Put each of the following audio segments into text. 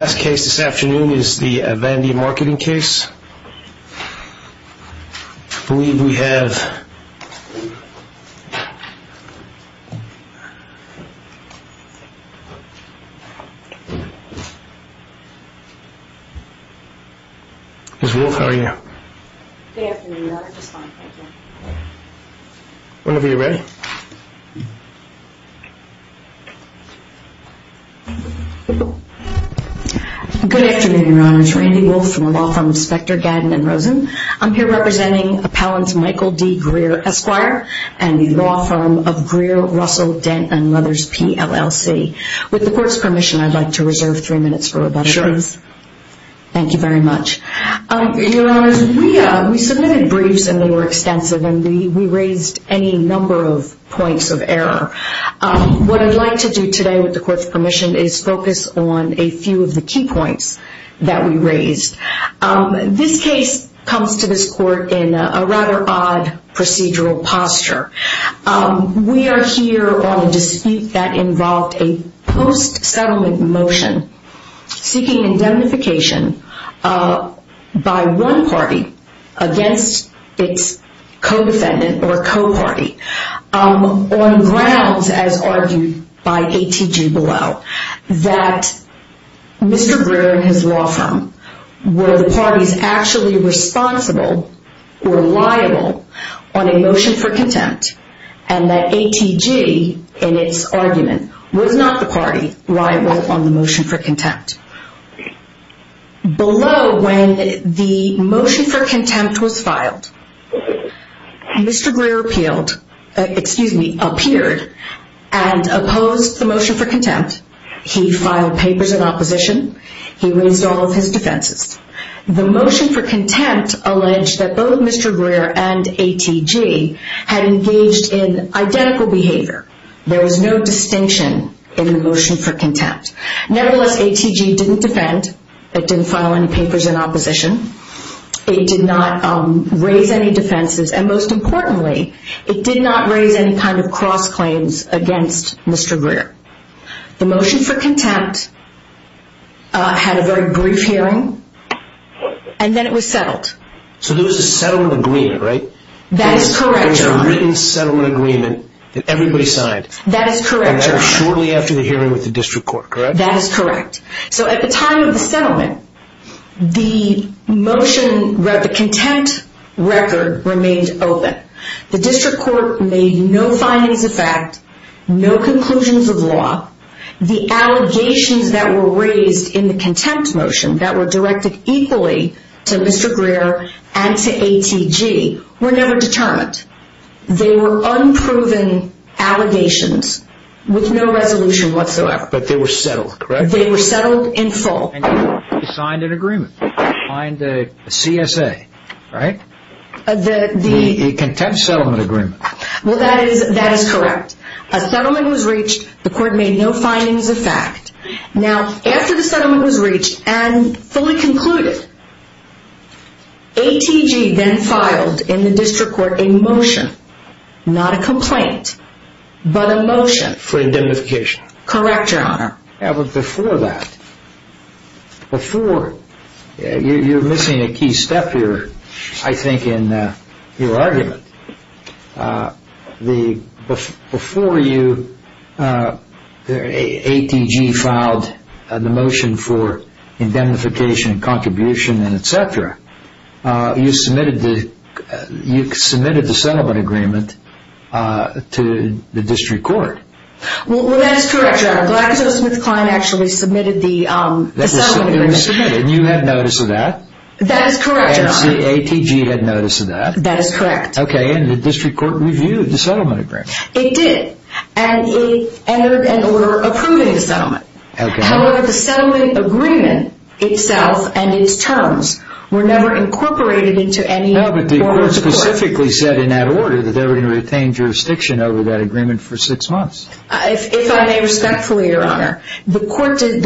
The last case this afternoon is the Avandia Marketing case. I believe we have... Ms. Wolfe, how are you? Good afternoon. I'm just fine, thank you. Whenever you're ready. Good afternoon, Your Honors. Randy Wolfe from the Law Firm of Spector, Gadden & Rosen. I'm here representing Appellant Michael D. Greer, Esquire, and the Law Firm of Greer, Russell, Dent, & Mothers, PLLC. With the Court's permission, I'd like to reserve three minutes for rebuttals. Sure. Thank you very much. Your Honors, we submitted briefs and they were extensive, and we raised any number of points of error. What I'd like to do today, with the Court's permission, is focus on a few of the key points that we raised. This case comes to this Court in a rather odd procedural posture. We are here on a dispute that involved a post-settlement motion seeking indemnification by one party against its co-defendant or co-party on grounds, as argued by ATG below, that Mr. Greer and his law firm were the parties actually responsible or liable on a motion for contempt, and that ATG, in its argument, was not the party liable on the motion for contempt. Below, when the motion for contempt was filed, Mr. Greer appealed, excuse me, appeared and opposed the motion for contempt. He filed papers in opposition. He raised all of his defenses. The motion for contempt alleged that both Mr. Greer and ATG had engaged in identical behavior. There was no distinction in the motion for contempt. Nevertheless, ATG didn't defend. It didn't file any papers in opposition. It did not raise any defenses, and most importantly, it did not raise any kind of cross-claims against Mr. Greer. The motion for contempt had a very brief hearing, and then it was settled. So there was a settlement agreement, right? That is correct, John. There was a written settlement agreement that everybody signed. That is correct, John. And that was shortly after the hearing with the district court, correct? That is correct. So at the time of the settlement, the motion, the contempt record remained open. The district court made no findings of fact, no conclusions of law. The allegations that were raised in the contempt motion that were directed equally to Mr. Greer and to ATG were never determined. They were unproven allegations with no resolution whatsoever. But they were settled, correct? They were settled in full. And you signed an agreement, signed a CSA, right? A contempt settlement agreement. Well, that is correct. A settlement was reached. The court made no findings of fact. Now, after the settlement was reached and fully concluded, ATG then filed in the district court a motion, not a complaint, but a motion. For indemnification. Correct, Your Honor. Yeah, but before that, before, you're missing a key step here, I think, in your argument. Before you, ATG filed the motion for indemnification, contribution, and et cetera, you submitted the settlement agreement to the district court. Well, that is correct, Your Honor. GlaxoSmithKline actually submitted the settlement agreement. And you had notice of that? That is correct, Your Honor. And ATG had notice of that? That is correct. Okay, and the district court reviewed the settlement agreement? It did. And it entered an order approving the settlement. However, the settlement agreement itself and its terms were never incorporated into any form of the court. No, but the court specifically said in that order that they were going to retain jurisdiction over that agreement for six months. If I may respectfully, Your Honor, the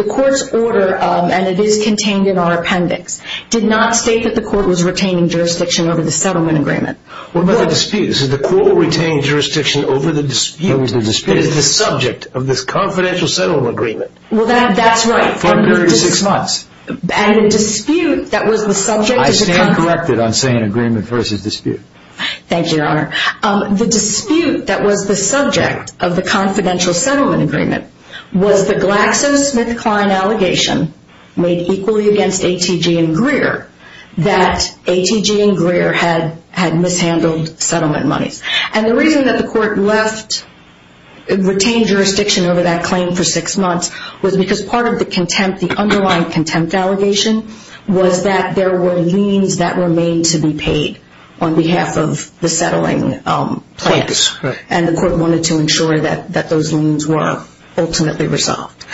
court's order, and it is contained in our appendix, did not state that the court was retaining jurisdiction over the settlement agreement. What about the dispute? The court retained jurisdiction over the dispute. Over the dispute. It is the subject of this confidential settlement agreement. Well, that's right. For a period of six months. I stand corrected on saying agreement versus dispute. Thank you, Your Honor. The dispute that was the subject of the confidential settlement agreement was the GlaxoSmithKline allegation made equally against ATG and Greer that ATG and Greer had mishandled settlement monies. And the reason that the court retained jurisdiction over that claim for six months was because part of the underlying contempt allegation was that there were liens that remained to be paid on behalf of the settling plans. And the court wanted to ensure that those liens were ultimately resolved.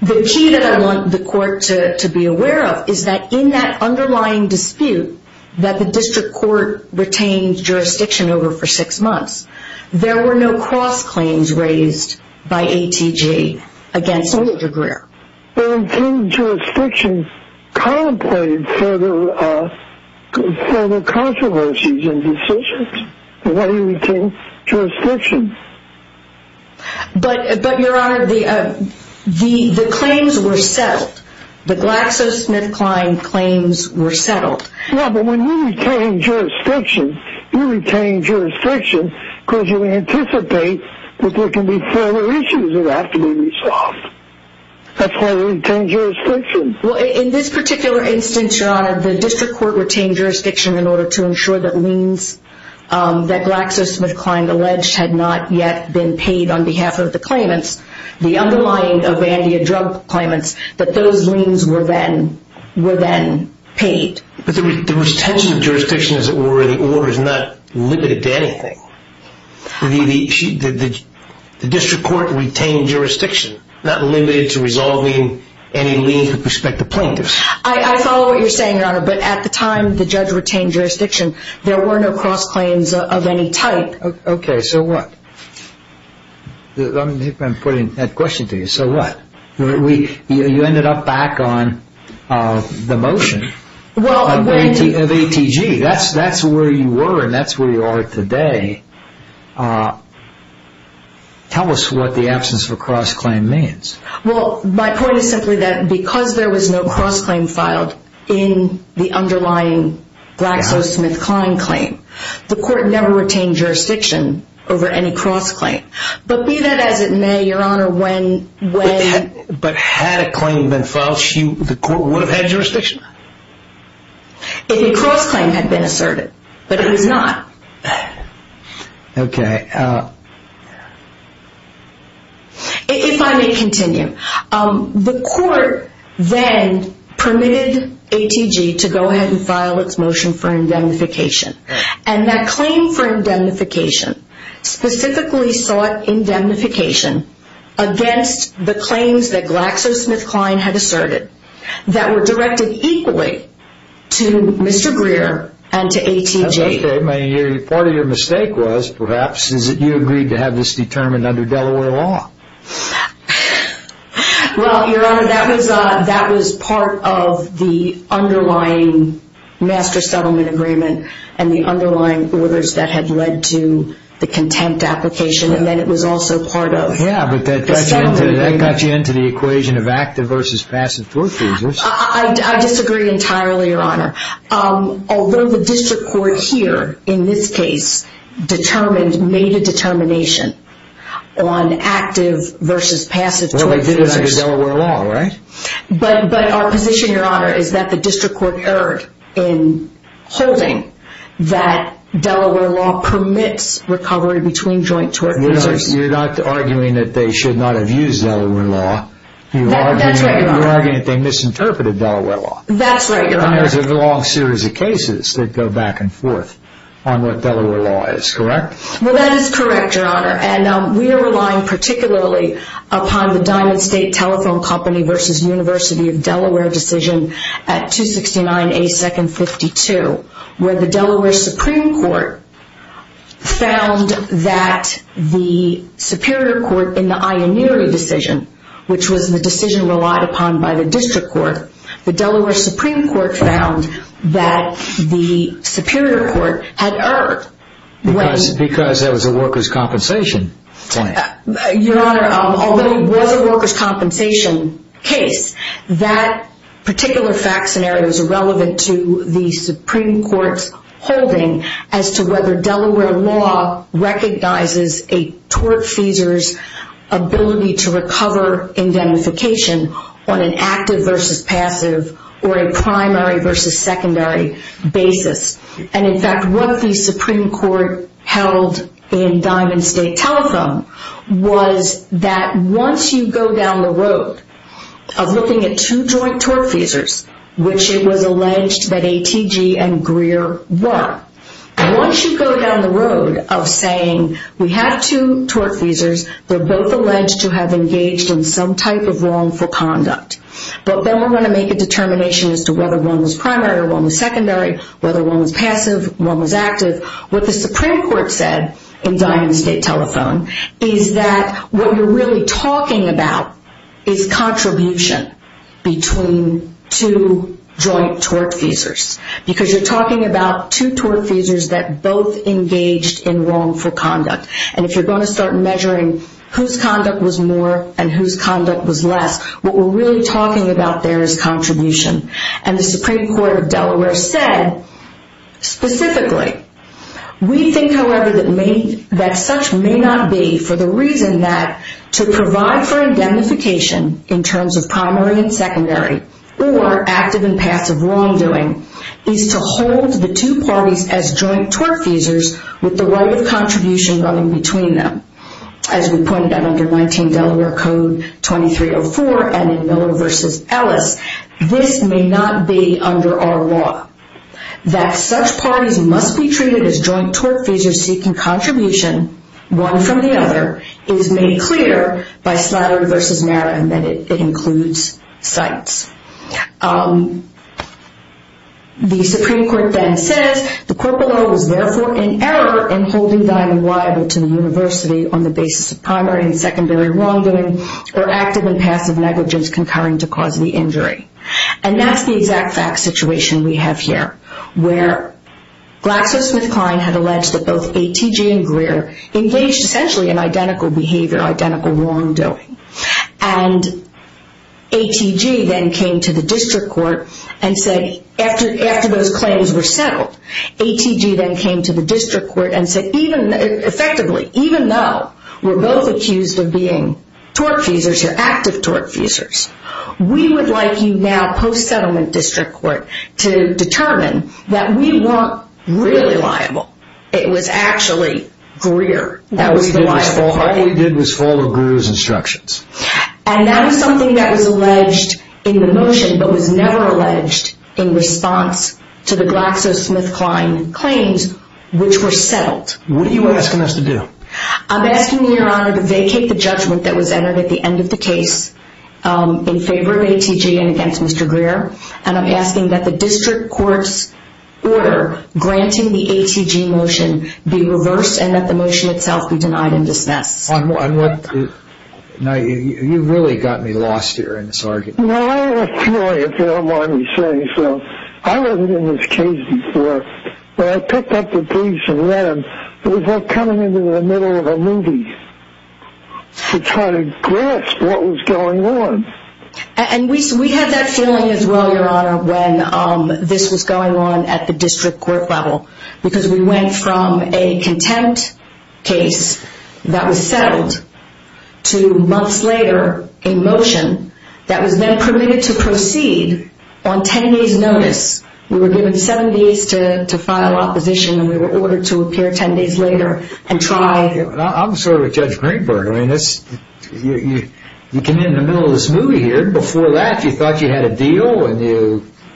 The key that I want the court to be aware of is that in that underlying dispute that the district court retained jurisdiction over for six months, there were no cross claims raised by ATG against Greer. The retained jurisdiction contemplated further controversies and decisions. Why do you retain jurisdiction? But, Your Honor, the claims were settled. The GlaxoSmithKline claims were settled. Yeah, but when you retain jurisdiction, you retain jurisdiction because you anticipate that there can be further issues that have to be resolved. That's why we retain jurisdiction. Well, in this particular instance, Your Honor, the district court retained jurisdiction in order to ensure that liens that GlaxoSmithKline alleged had not yet been paid on behalf of the claimants. The underlying of ANDEA drug claimants, that those liens were then paid. But the retention of jurisdiction, as it were, the order is not limited to anything. The district court retained jurisdiction, not limited to resolving any lien with respect to plaintiffs. I follow what you're saying, Your Honor, but at the time the judge retained jurisdiction, there were no cross claims of any type. Okay, so what? I'm putting that question to you. So what? You ended up back on the motion of ATG. ATG, that's where you were and that's where you are today. Tell us what the absence of a cross claim means. Well, my point is simply that because there was no cross claim filed in the underlying GlaxoSmithKline claim, the court never retained jurisdiction over any cross claim. But be that as it may, Your Honor, when... But had a claim been filed, the court would have had jurisdiction? If a cross claim had been asserted, but it was not. Okay. If I may continue, the court then permitted ATG to go ahead and file its motion for indemnification. And that claim for indemnification specifically sought indemnification against the claims that GlaxoSmithKline had asserted that were directed equally to Mr. Greer and to ATG. That's okay. Part of your mistake was, perhaps, is that you agreed to have this determined under Delaware law. Well, Your Honor, that was part of the underlying master settlement agreement and the underlying orders that had led to the contempt application. And then it was also part of the settlement agreement. Yeah, but that got you into the equation of active versus passive tort cases. I disagree entirely, Your Honor. Although the district court here, in this case, determined, made a determination on active versus passive tort cases. Well, they did it under Delaware law, right? But our position, Your Honor, is that the district court erred in holding that Delaware law permits recovery between joint tort cases. You're not arguing that they should not have used Delaware law. That's right, Your Honor. You're arguing that they misinterpreted Delaware law. That's right, Your Honor. And there's a long series of cases that go back and forth on what Delaware law is, correct? Well, that is correct, Your Honor. And we are relying particularly upon the Diamond State Telephone Company versus University of Delaware decision at 269A.2.52, where the Delaware Supreme Court found that the superior court in the Ioneary decision, which was the decision relied upon by the district court, the Delaware Supreme Court found that the superior court had erred. Because there was a workers' compensation plan. Your Honor, although it was a workers' compensation case, that particular fact scenario is irrelevant to the Supreme Court's holding as to whether Delaware law recognizes a tort feasor's ability to recover indemnification on an active versus passive or a primary versus secondary basis. And in fact, what the Supreme Court held in Diamond State Telephone was that once you go down the road of looking at two joint tort feasors, which it was alleged that ATG and Greer were, once you go down the road of saying we have two tort feasors, they're both alleged to have engaged in some type of wrongful conduct. But then we're going to make a determination as to whether one was primary or one was secondary, whether one was passive, one was active. What the Supreme Court said in Diamond State Telephone is that what you're really talking about is contribution between two joint tort feasors. Because you're talking about two tort feasors that both engaged in wrongful conduct. And if you're going to start measuring whose conduct was more and whose conduct was less, what we're really talking about there is contribution. And the Supreme Court of Delaware said specifically, we think, however, that such may not be for the reason that to provide for indemnification in terms of primary and secondary or active and passive wrongdoing is to hold the two parties as joint tort feasors with the right of contribution running between them. As we pointed out under 19 Delaware Code 2304 and in Miller v. Ellis, this may not be under our law. That such parties must be treated as joint tort feasors seeking contribution, one from the other, is made clear by Slattery v. Merritt and that it includes cites. The Supreme Court then says, the court below is therefore in error in holding thine liable to the university on the basis of primary and secondary wrongdoing or active and passive negligence concurring to cause the injury. And that's the exact fact situation we have here, where Glasser, Smith, Klein had alleged that both ATG and Greer engaged essentially in identical behavior, identical wrongdoing. And ATG then came to the district court and said, after those claims were settled, ATG then came to the district court and said, effectively, even though we're both accused of being tort feasors or active tort feasors, we would like you now, post-settlement district court, to determine that we want really liable. It was actually Greer that was the liable party. All we did was follow Greer's instructions. And that was something that was alleged in the motion, but was never alleged in response to the Glasser, Smith, Klein claims, which were settled. What are you asking us to do? I'm asking you, Your Honor, to vacate the judgment that was entered at the end of the case in favor of ATG and against Mr. Greer. And I'm asking that the district court's order granting the ATG motion be reversed and that the motion itself be denied and dismissed. You really got me lost here in this argument. I have a feeling, if you don't mind me saying so. I wasn't in this case before, but I picked up the piece and read it. It was like coming into the middle of a movie to try to grasp what was going on. And we had that feeling as well, Your Honor, when this was going on at the district court level. Because we went from a contempt case that was settled to, months later, a motion that was then permitted to proceed on ten days' notice. We were given seven days to file opposition and we were ordered to appear ten days later and try. I'm sort of a Judge Greenberg. You came in the middle of this movie here. Before that, you thought you had a deal and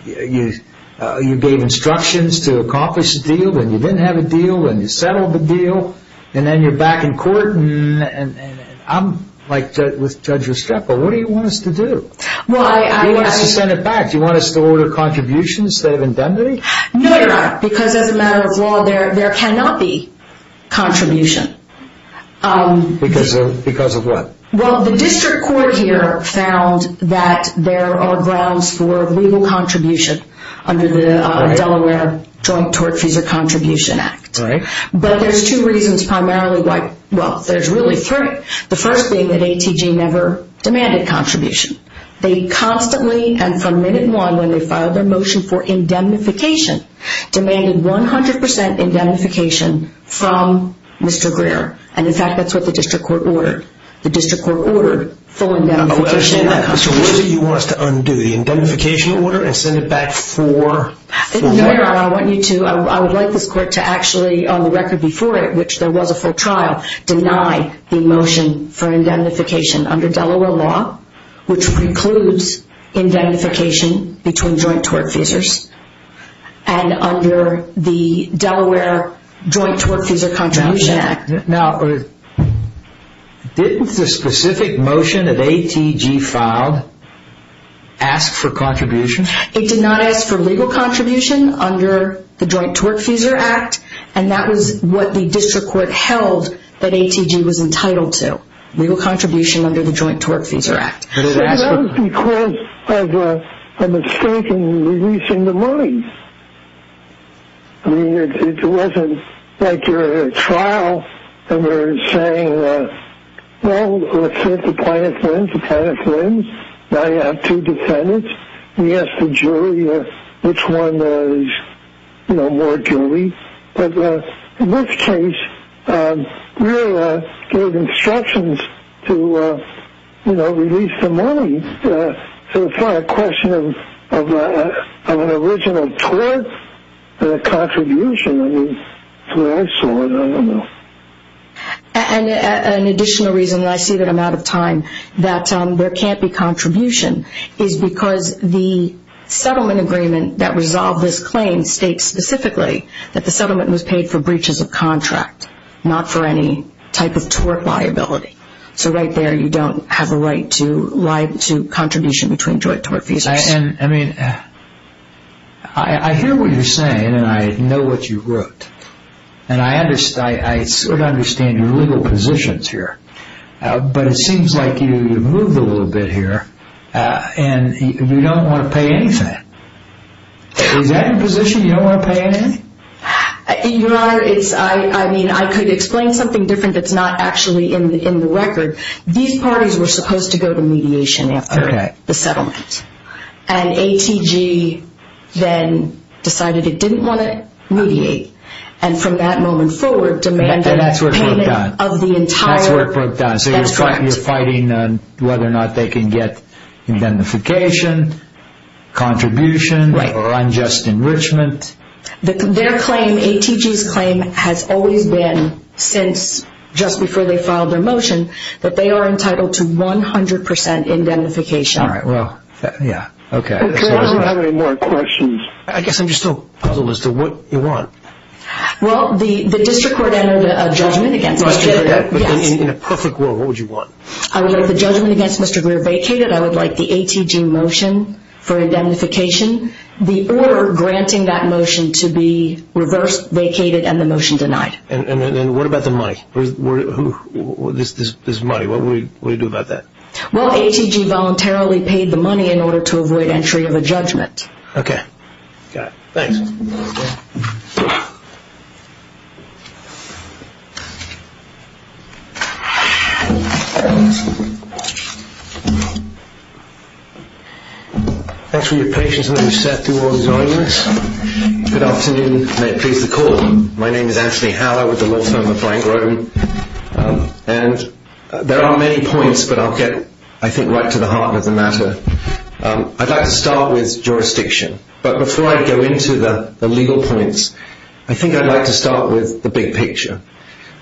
you gave instructions to accomplish the deal. Then you didn't have a deal and you settled the deal. And then you're back in court. I'm like with Judge Restrepo. What do you want us to do? You want us to send it back? Do you want us to order contributions that have been done to me? No, Your Honor. Because as a matter of law, there cannot be contribution. Because of what? Well, the district court here found that there are grounds for legal contribution under the Delaware Joint Tort Fees and Contribution Act. But there's two reasons primarily why. Well, there's really three. The first being that ATG never demanded contribution. They constantly, and from minute one when they filed their motion for indemnification, demanded 100% indemnification from Mr. Greer. And in fact, that's what the district court ordered. The district court ordered full indemnification. So what do you want us to undo? The indemnification order and send it back for? No, Your Honor. I would like this court to actually, on the record before it, which there was a full trial, deny the motion for indemnification under Delaware law. Which precludes indemnification between joint tort feesers and under the Delaware Joint Tort Fees and Contribution Act. Now, didn't the specific motion that ATG filed ask for contribution? It did not ask for legal contribution under the Joint Tort Fees Act. And that was what the district court held that ATG was entitled to. It did not ask for legal contribution under the Joint Tort Fees Act. It was because of a mistake in releasing the money. I mean, it wasn't like you're at a trial and you're saying, well, let's say if the plaintiff wins, the plaintiff wins. Now you have two defendants. You ask the jury which one is, you know, more guilty. But in this case, we gave instructions to, you know, release the money. So it's not a question of an original tort, but a contribution. I mean, that's the way I saw it. I don't know. And an additional reason that I see that I'm out of time, that there can't be contribution, is because the settlement agreement that resolved this claim states specifically that the settlement was paid for breaches of contract, not for any type of tort liability. So right there, you don't have a right to contribution between joint tort fees. I mean, I hear what you're saying, and I know what you wrote. And I sort of understand your legal positions here. But it seems like you've moved a little bit here, and you don't want to pay anything. Is that your position, you don't want to pay anything? Your Honor, I mean, I could explain something different that's not actually in the record. These parties were supposed to go to mediation after the settlement. And ATG then decided it didn't want to mediate. And from that moment forward, demand payment of the entire. And that's where it broke down. That's where it broke down. So you're fighting on whether or not they can get indemnification, contribution, or unjust enrichment. Their claim, ATG's claim, has always been since just before they filed their motion that they are entitled to 100% indemnification. All right, well, yeah, okay. Okay, I don't have any more questions. I guess I'm still puzzled as to what you want. Well, the district court entered a judgment against Mr. Greer. In a perfect world, what would you want? I would like the judgment against Mr. Greer vacated. I would like the ATG motion for indemnification. The order granting that motion to be reversed, vacated, and the motion denied. And what about the money? This money, what will you do about that? Well, ATG voluntarily paid the money in order to avoid entry of a judgment. Okay. Got it. Thanks. Thanks for your patience as you sat through all these arguments. Good afternoon. May it please the Court. My name is Anthony Haller with the law firm of Frank Grodin. And there are many points, but I'll get, I think, right to the heart of the matter. I'd like to start with jurisdiction. But before I go into the legal points, I think I'd like to start with the big picture.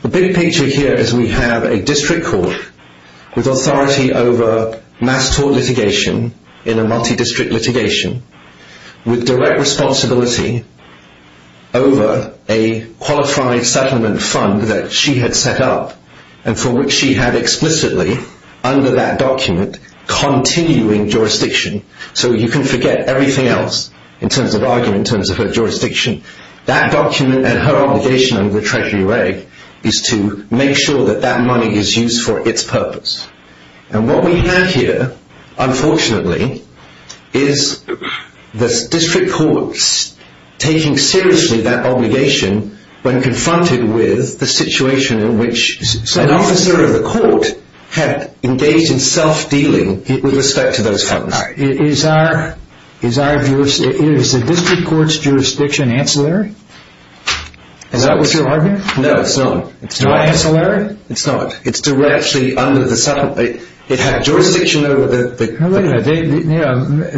The big picture here is we have a district court with authority over mass tort litigation in a multi-district litigation with direct responsibility over a qualified settlement fund that she had set up and for which she had explicitly, under that document, continuing jurisdiction. So you can forget everything else in terms of argument, in terms of her jurisdiction. That document and her obligation under the Treasury Reg is to make sure that that money is used for its purpose. And what we have here, unfortunately, is the district courts taking seriously that obligation when confronted with the situation in which an officer of the court had engaged in self-dealing with respect to those funds. Is the district court's jurisdiction ancillary? Is that what you're arguing? No, it's not. It's not ancillary? It's not. It's directly under the settlement. It had jurisdiction over the…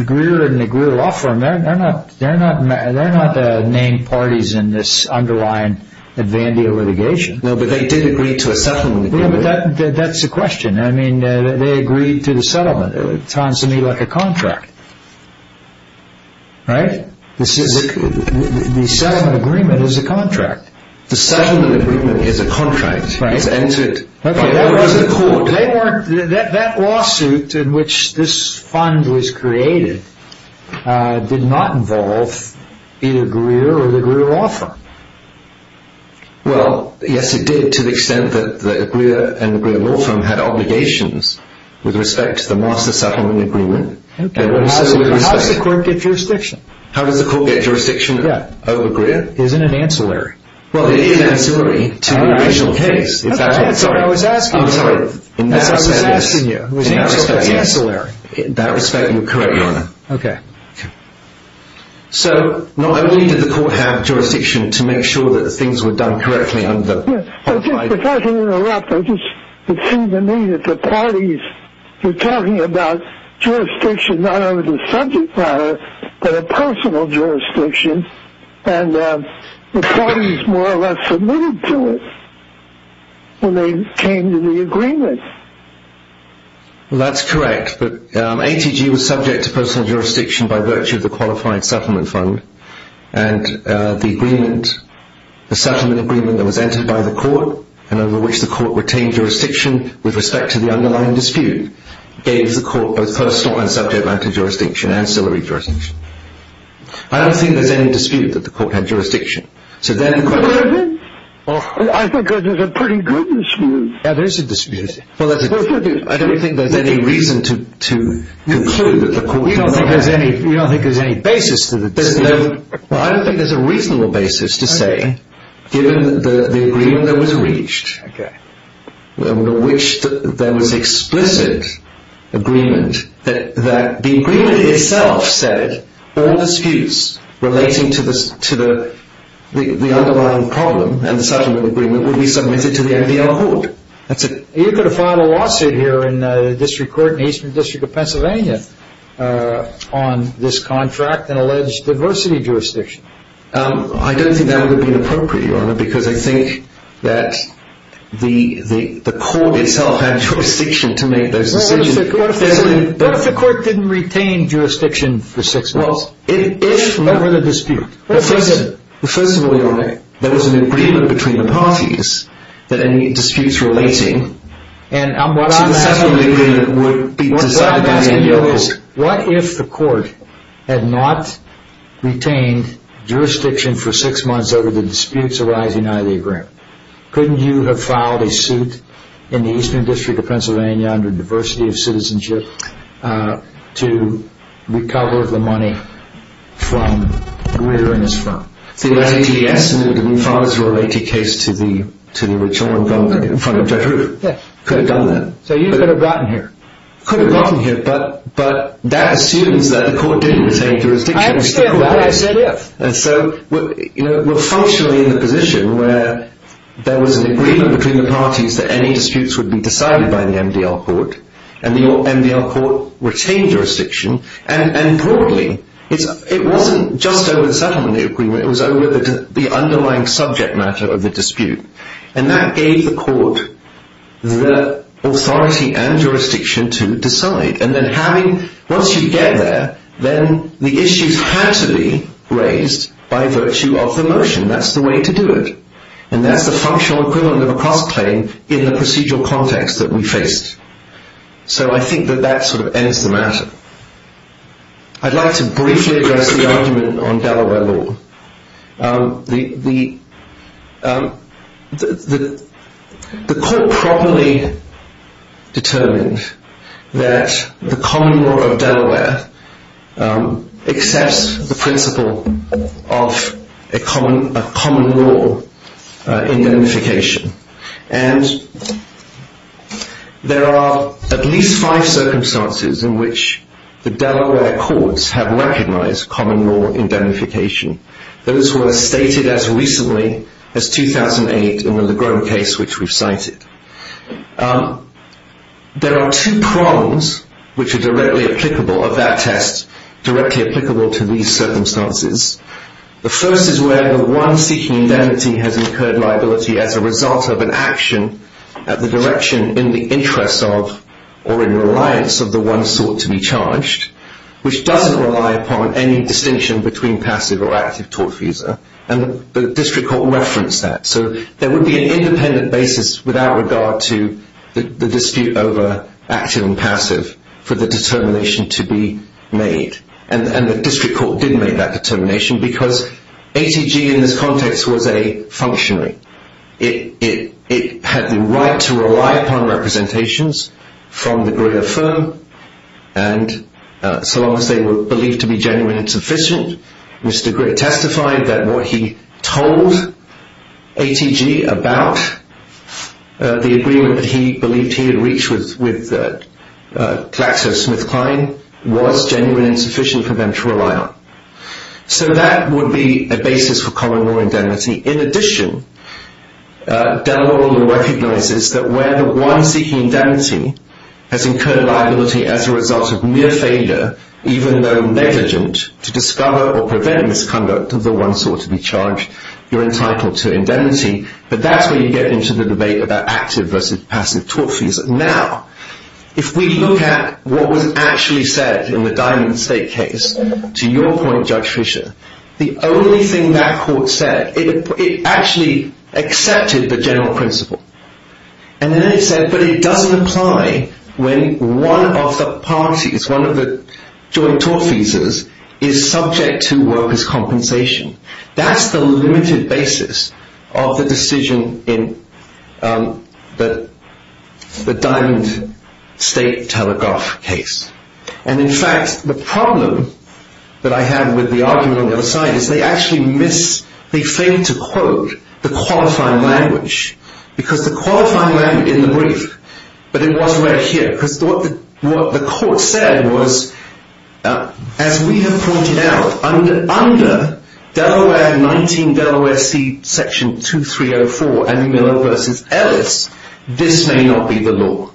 Greer and the Greer Law Firm, they're not named parties in this underlying advandia litigation. No, but they did agree to a settlement agreement. That's the question. I mean, they agreed to the settlement. It sounds to me like a contract. Right? The settlement agreement is a contract. The settlement agreement is a contract. Right. It's entered by the court. That lawsuit in which this fund was created did not involve either Greer or the Greer Law Firm. Well, yes, it did to the extent that the Greer and the Greer Law Firm had obligations with respect to the master settlement agreement. How does the court get jurisdiction? How does the court get jurisdiction over Greer? Isn't it ancillary? Well, it is ancillary to the original case. I'm sorry. I was asking you. In that respect, yes. I was asking you. In that respect, yes. It's ancillary. In that respect, you're correct, Your Honor. Okay. Okay. So not only did the court have jurisdiction to make sure that things were done correctly under… If I can interrupt, I just… It seemed to me that the parties were talking about jurisdiction not over the subject matter, but a personal jurisdiction, and the parties more or less admitted to it when they came to the agreement. Well, that's correct. But ATG was subject to personal jurisdiction by virtue of the qualified settlement fund, and the agreement, the settlement agreement that was entered by the court and over which the court retained jurisdiction with respect to the underlying dispute, gave the court both personal and subject matter jurisdiction, ancillary jurisdiction. I don't think there's any dispute that the court had jurisdiction. So then the question… I think there's a pretty good dispute. Yeah, there is a dispute. I don't think there's any reason to conclude that the court… You don't think there's any basis to the dispute? Well, I don't think there's a reasonable basis to say, given the agreement that was reached, which there was explicit agreement that the agreement itself said all disputes relating to the underlying problem and settlement agreement would be submitted to the NBL court. You could have filed a lawsuit here in the District Court in the Eastern District of Pennsylvania on this contract and alleged diversity jurisdiction. I don't think that would have been appropriate, Your Honor, because I think that the court itself had jurisdiction to make those decisions. What if the court didn't retain jurisdiction for six months? Well, if… What were the disputes? First of all, Your Honor, there was an agreement between the parties that any disputes relating to the settlement agreement would be decided by the NBL court. What if the court had not retained jurisdiction for six months over the disputes arising out of the agreement? Couldn't you have filed a suit in the Eastern District of Pennsylvania under diversity of citizenship to recover the money from where you're in this firm? The NBL… The NBL… The NBL… The NBL… The NBL… The NBL… The NBL… The NBL… The NBL… Yes. Could have done that. So you could have gotten here. Could have gotten here, but that assumes that the court didn't retain jurisdiction. I understand that. I understand that. And so we're functionally in a position where there was an agreement between the parties that any disputes would be decided by the NBL court. And the NBL court retained jurisdiction. And importantly, it wasn't just over the settlement agreement. It was over the underlying subject matter of the dispute. And that gave the court the authority and jurisdiction to decide. And then having – once you get there, then the issues had to be raised by virtue of the motion. That's the way to do it. And that's the functional equivalent of a cross-claim in the procedural context that we faced. So I think that that sort of ends the matter. I'd like to briefly address the argument on Delaware law. The court properly determined that the common law of Delaware accepts the principle of a common law indemnification. And there are at least five circumstances in which the Delaware courts have recognized common law indemnification. Those were stated as recently as 2008 in the Legros case, which we've cited. There are two prongs which are directly applicable of that test, directly applicable to these circumstances. The first is where the one seeking indemnity has incurred liability as a result of an action at the direction in the interest of or in reliance of the one sought to be charged, which doesn't rely upon any distinction between passive or active tortfeasor. And the district court referenced that. So there would be an independent basis without regard to the dispute over active and passive for the determination to be made. And the district court didn't make that determination because ATG in this context was a functionary. It had the right to rely upon representations from the greater firm. And so long as they were believed to be genuine and sufficient, Mr. Gritt testified that what he told ATG about the agreement that he believed he had reached with KlaxoSmithKline was genuine and sufficient for them to rely on. So that would be a basis for common law indemnity. In addition, Delaware recognizes that where the one seeking indemnity has incurred liability as a result of mere failure, even though negligent to discover or prevent misconduct of the one sought to be charged, you're entitled to indemnity. But that's where you get into the debate about active versus passive tortfeasor. Now, if we look at what was actually said in the Diamond State case, to your point, Judge Fisher, the only thing that court said, it actually accepted the general principle. And then it said, but it doesn't apply when one of the parties, one of the joint tortfeasors, is subject to workers' compensation. That's the limited basis of the decision in the Diamond State Telegraph case. And in fact, the problem that I have with the argument on the other side is they actually miss, they fail to quote the qualifying language because the qualifying language in the brief, but it wasn't right here. Because what the court said was, as we have pointed out, under Delaware 19, Delaware C, Section 2304, Andy Miller versus Ellis, this may not be the law.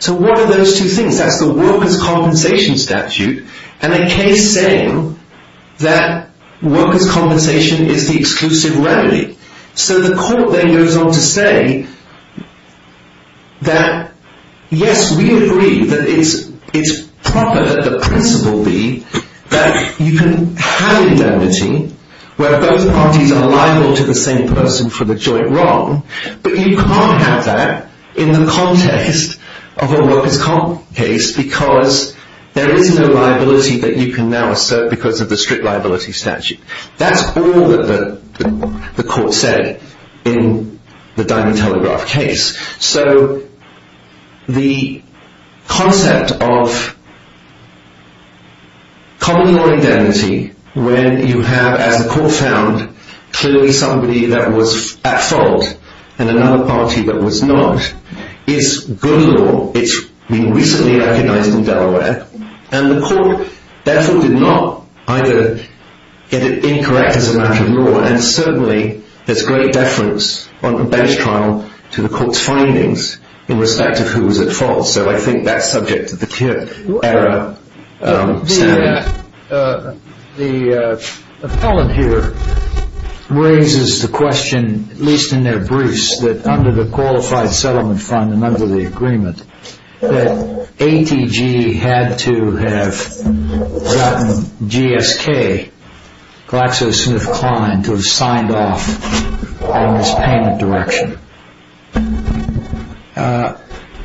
So what are those two things? That's the workers' compensation statute and a case saying that workers' compensation is the exclusive remedy. So the court then goes on to say that, yes, we agree that it's proper that the principle be that you can have indemnity where both parties are liable to the same person for the joint wrong, but you can't have that in the context of a workers' comp case because there is no liability that you can now assert because of the strict liability statute. That's all that the court said in the Diamond Telegraph case. So the concept of common law indemnity, when you have, as the court found, clearly somebody that was at fault and another party that was not, is good law. It's been recently recognized in Delaware, and the court therefore did not either get it incorrect as a matter of law, and certainly there's great deference on the bench trial to the court's findings in respect of who was at fault. So I think that's subject to the Kirk-era standard. The appellant here raises the question, at least in their briefs, that under the Qualified Settlement Fund and under the agreement, that ATG had to have gotten GSK, GlaxoSmithKline, to have signed off on this payment direction.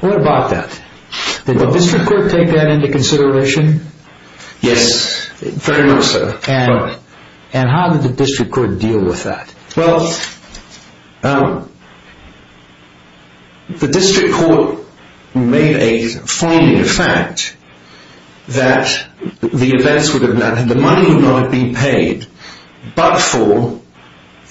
What about that? Did the district court take that into consideration? Yes, very much so. And how did the district court deal with that? Well, the district court made a finding of fact that the money would not have been paid, but for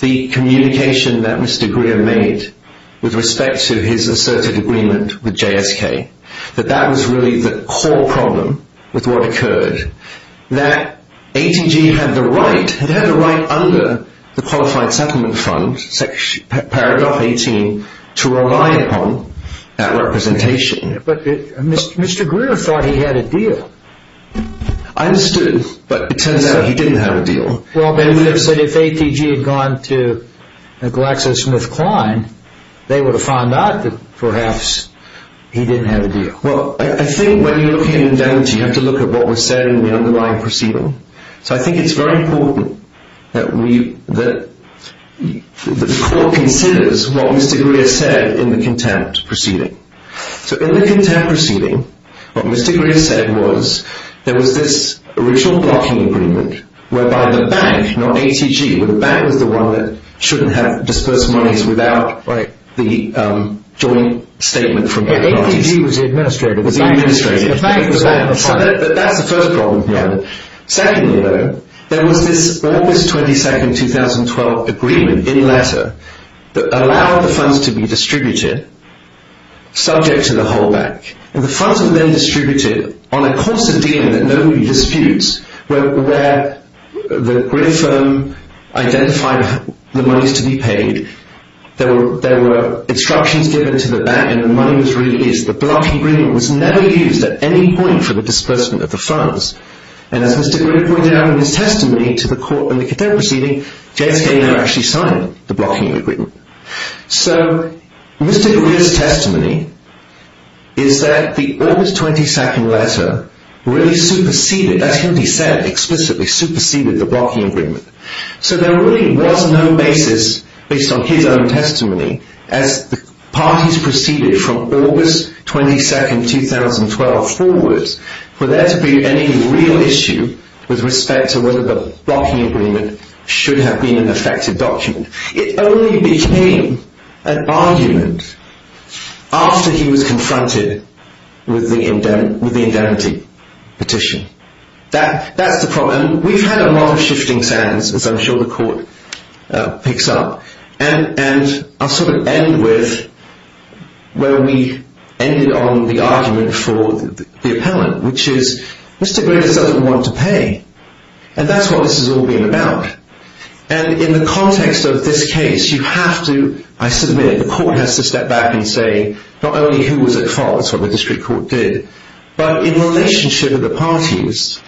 the communication that Mr. Greer made with respect to his asserted agreement with GSK, that that was really the core problem with what occurred. That ATG had the right under the Qualified Settlement Fund, Paragraph 18, to rely upon that representation. But Mr. Greer thought he had a deal. I understood, but it turns out he didn't have a deal. They would have said if ATG had gone to GlaxoSmithKline, they would have found out that perhaps he didn't have a deal. Well, I think when you look at indemnity, you have to look at what was said in the underlying proceeding. So I think it's very important that the court considers what Mr. Greer said in the contempt proceeding. So in the contempt proceeding, what Mr. Greer said was there was this original blocking agreement, whereby the bank, not ATG, where the bank was the one that shouldn't have disbursed monies without the joint statement from GlaxoSmithKline. ATG was the administrator. The bank was the one in the front. But that's the first problem here. Secondly, though, there was this August 22, 2012 agreement, in letter, that allowed the funds to be distributed, subject to the whole bank. And the funds were then distributed on a course of dealing that nobody disputes, where the Greer firm identified the monies to be paid. There were instructions given to the bank and the money was released. The blocking agreement was never used at any point for the disbursement of the funds. And as Mr. Greer pointed out in his testimony to the court in the contempt proceeding, JSK never actually signed the blocking agreement. So Mr. Greer's testimony is that the August 22 letter really superseded, that's what he said explicitly, superseded the blocking agreement. So there really was no basis, based on his own testimony, as the parties proceeded from August 22, 2012 forward, for there to be any real issue with respect to whether the blocking agreement should have been an effective document. It only became an argument after he was confronted with the indemnity petition. That's the problem. We've had a lot of shifting sands, as I'm sure the court picks up. And I'll sort of end with where we ended on the argument for the appellant, which is Mr. Greer doesn't want to pay. And that's what this has all been about. And in the context of this case, you have to, I submit, the court has to step back and say, not only who was at fault, that's what the district court did, but in relationship to the parties,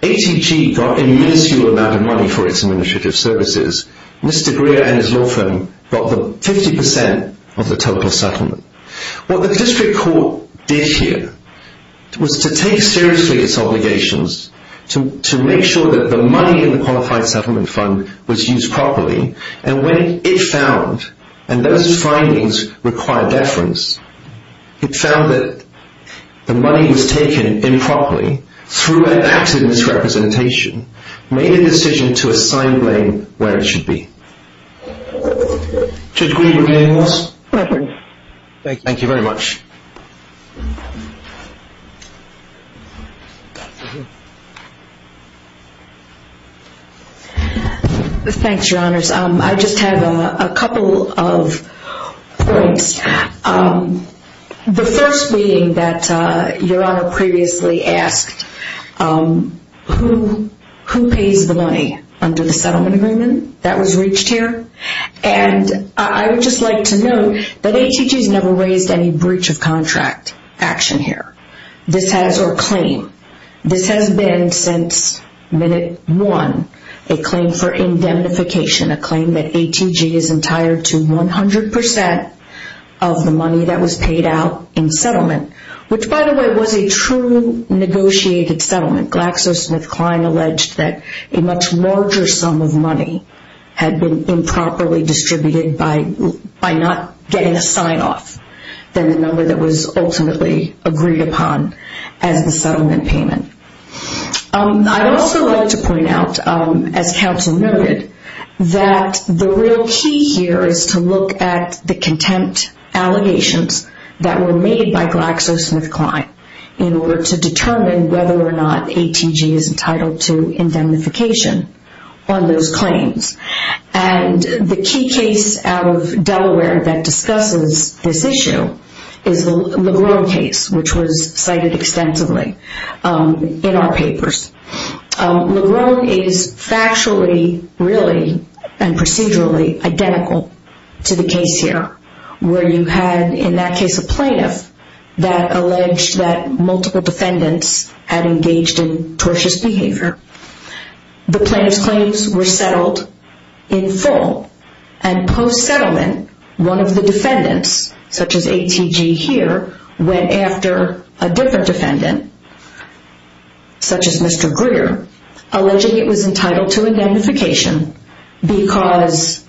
ATG got a minuscule amount of money for its administrative services. Mr. Greer and his law firm got 50% of the total settlement. What the district court did here was to take seriously its obligations to make sure that the money in the qualified settlement fund was used properly. And when it found, and those findings require deference, it found that the money was taken improperly through an accident's representation, made a decision to assign blame where it should be. Judge Greer, do you have anything else? My pardon? Thank you very much. Thanks, Your Honors. I just have a couple of points. The first being that Your Honor previously asked, who pays the money under the settlement agreement that was reached here? And I would just like to note that ATG has never raised any breach of contract action here. This has, or claim, this has been since minute one, a claim for indemnification, a claim that ATG is entitled to 100% of the money that was paid out in settlement, which by the way was a true negotiated settlement. GlaxoSmithKline alleged that a much larger sum of money had been improperly distributed by not getting a sign-off than the number that was ultimately agreed upon as the settlement payment. I'd also like to point out, as counsel noted, that the real key here is to look at the contempt allegations that were made by GlaxoSmithKline in order to determine whether or not ATG is entitled to indemnification on those claims. And the key case out of Delaware that discusses this issue is the Legrone case, which was cited extensively in our papers. Legrone is factually, really, and procedurally identical to the case here, where you had in that case a plaintiff that alleged that multiple defendants had engaged in tortious behavior. The plaintiff's claims were settled in full, and post-settlement, one of the defendants, such as ATG here, went after a different defendant, such as Mr. Greer, alleging it was entitled to indemnification because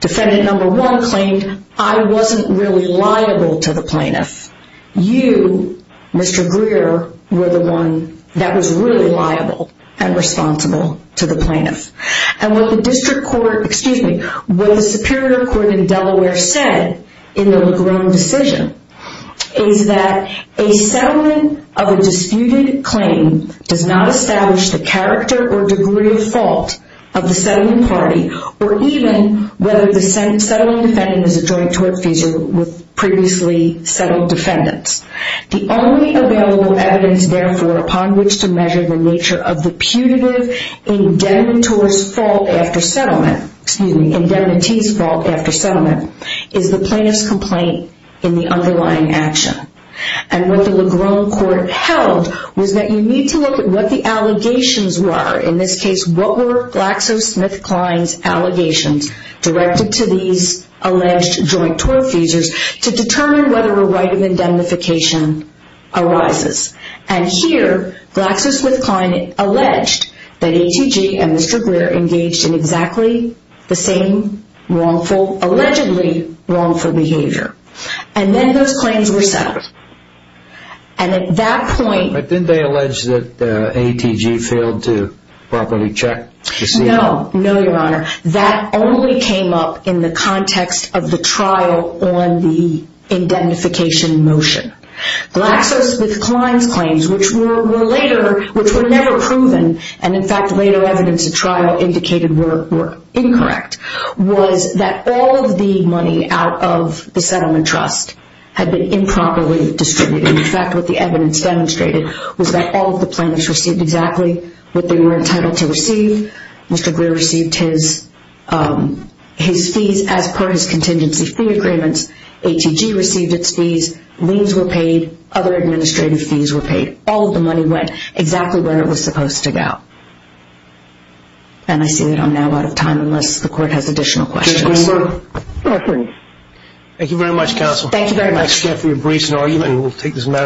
defendant number one claimed, I wasn't really liable to the plaintiff. You, Mr. Greer, were the one that was really liable and responsible to the plaintiff. And what the Superior Court in Delaware said in the Legrone decision is that a settlement of a disputed claim does not establish the character or degree of fault of the settling party, or even whether the settling defendant is a joint tort feisal with previously settled defendants. The only available evidence, therefore, upon which to measure the nature of the putative indemnity's fault after settlement is the plaintiff's complaint in the underlying action. And what the Legrone court held was that you need to look at what the allegations were. In this case, what were GlaxoSmithKline's allegations directed to these alleged joint tort feisals to determine whether a right of indemnification arises. And here, GlaxoSmithKline alleged that ATG and Mr. Greer engaged in exactly the same wrongful, allegedly wrongful behavior. And then those claims were settled. And at that point... But didn't they allege that ATG failed to properly check? No. No, Your Honor. That only came up in the context of the trial on the indemnification motion. GlaxoSmithKline's claims, which were later, which were never proven, and in fact later evidence at trial indicated were incorrect, was that all of the money out of the settlement trust had been improperly distributed. In fact, what the evidence demonstrated was that all of the plaintiffs received exactly what they were entitled to receive. Mr. Greer received his fees as per his contingency fee agreements. ATG received its fees. Liens were paid. Other administrative fees were paid. All of the money went exactly where it was supposed to go. And I see that I'm now out of time unless the court has additional questions. Thank you very much counsel. Thank you very much.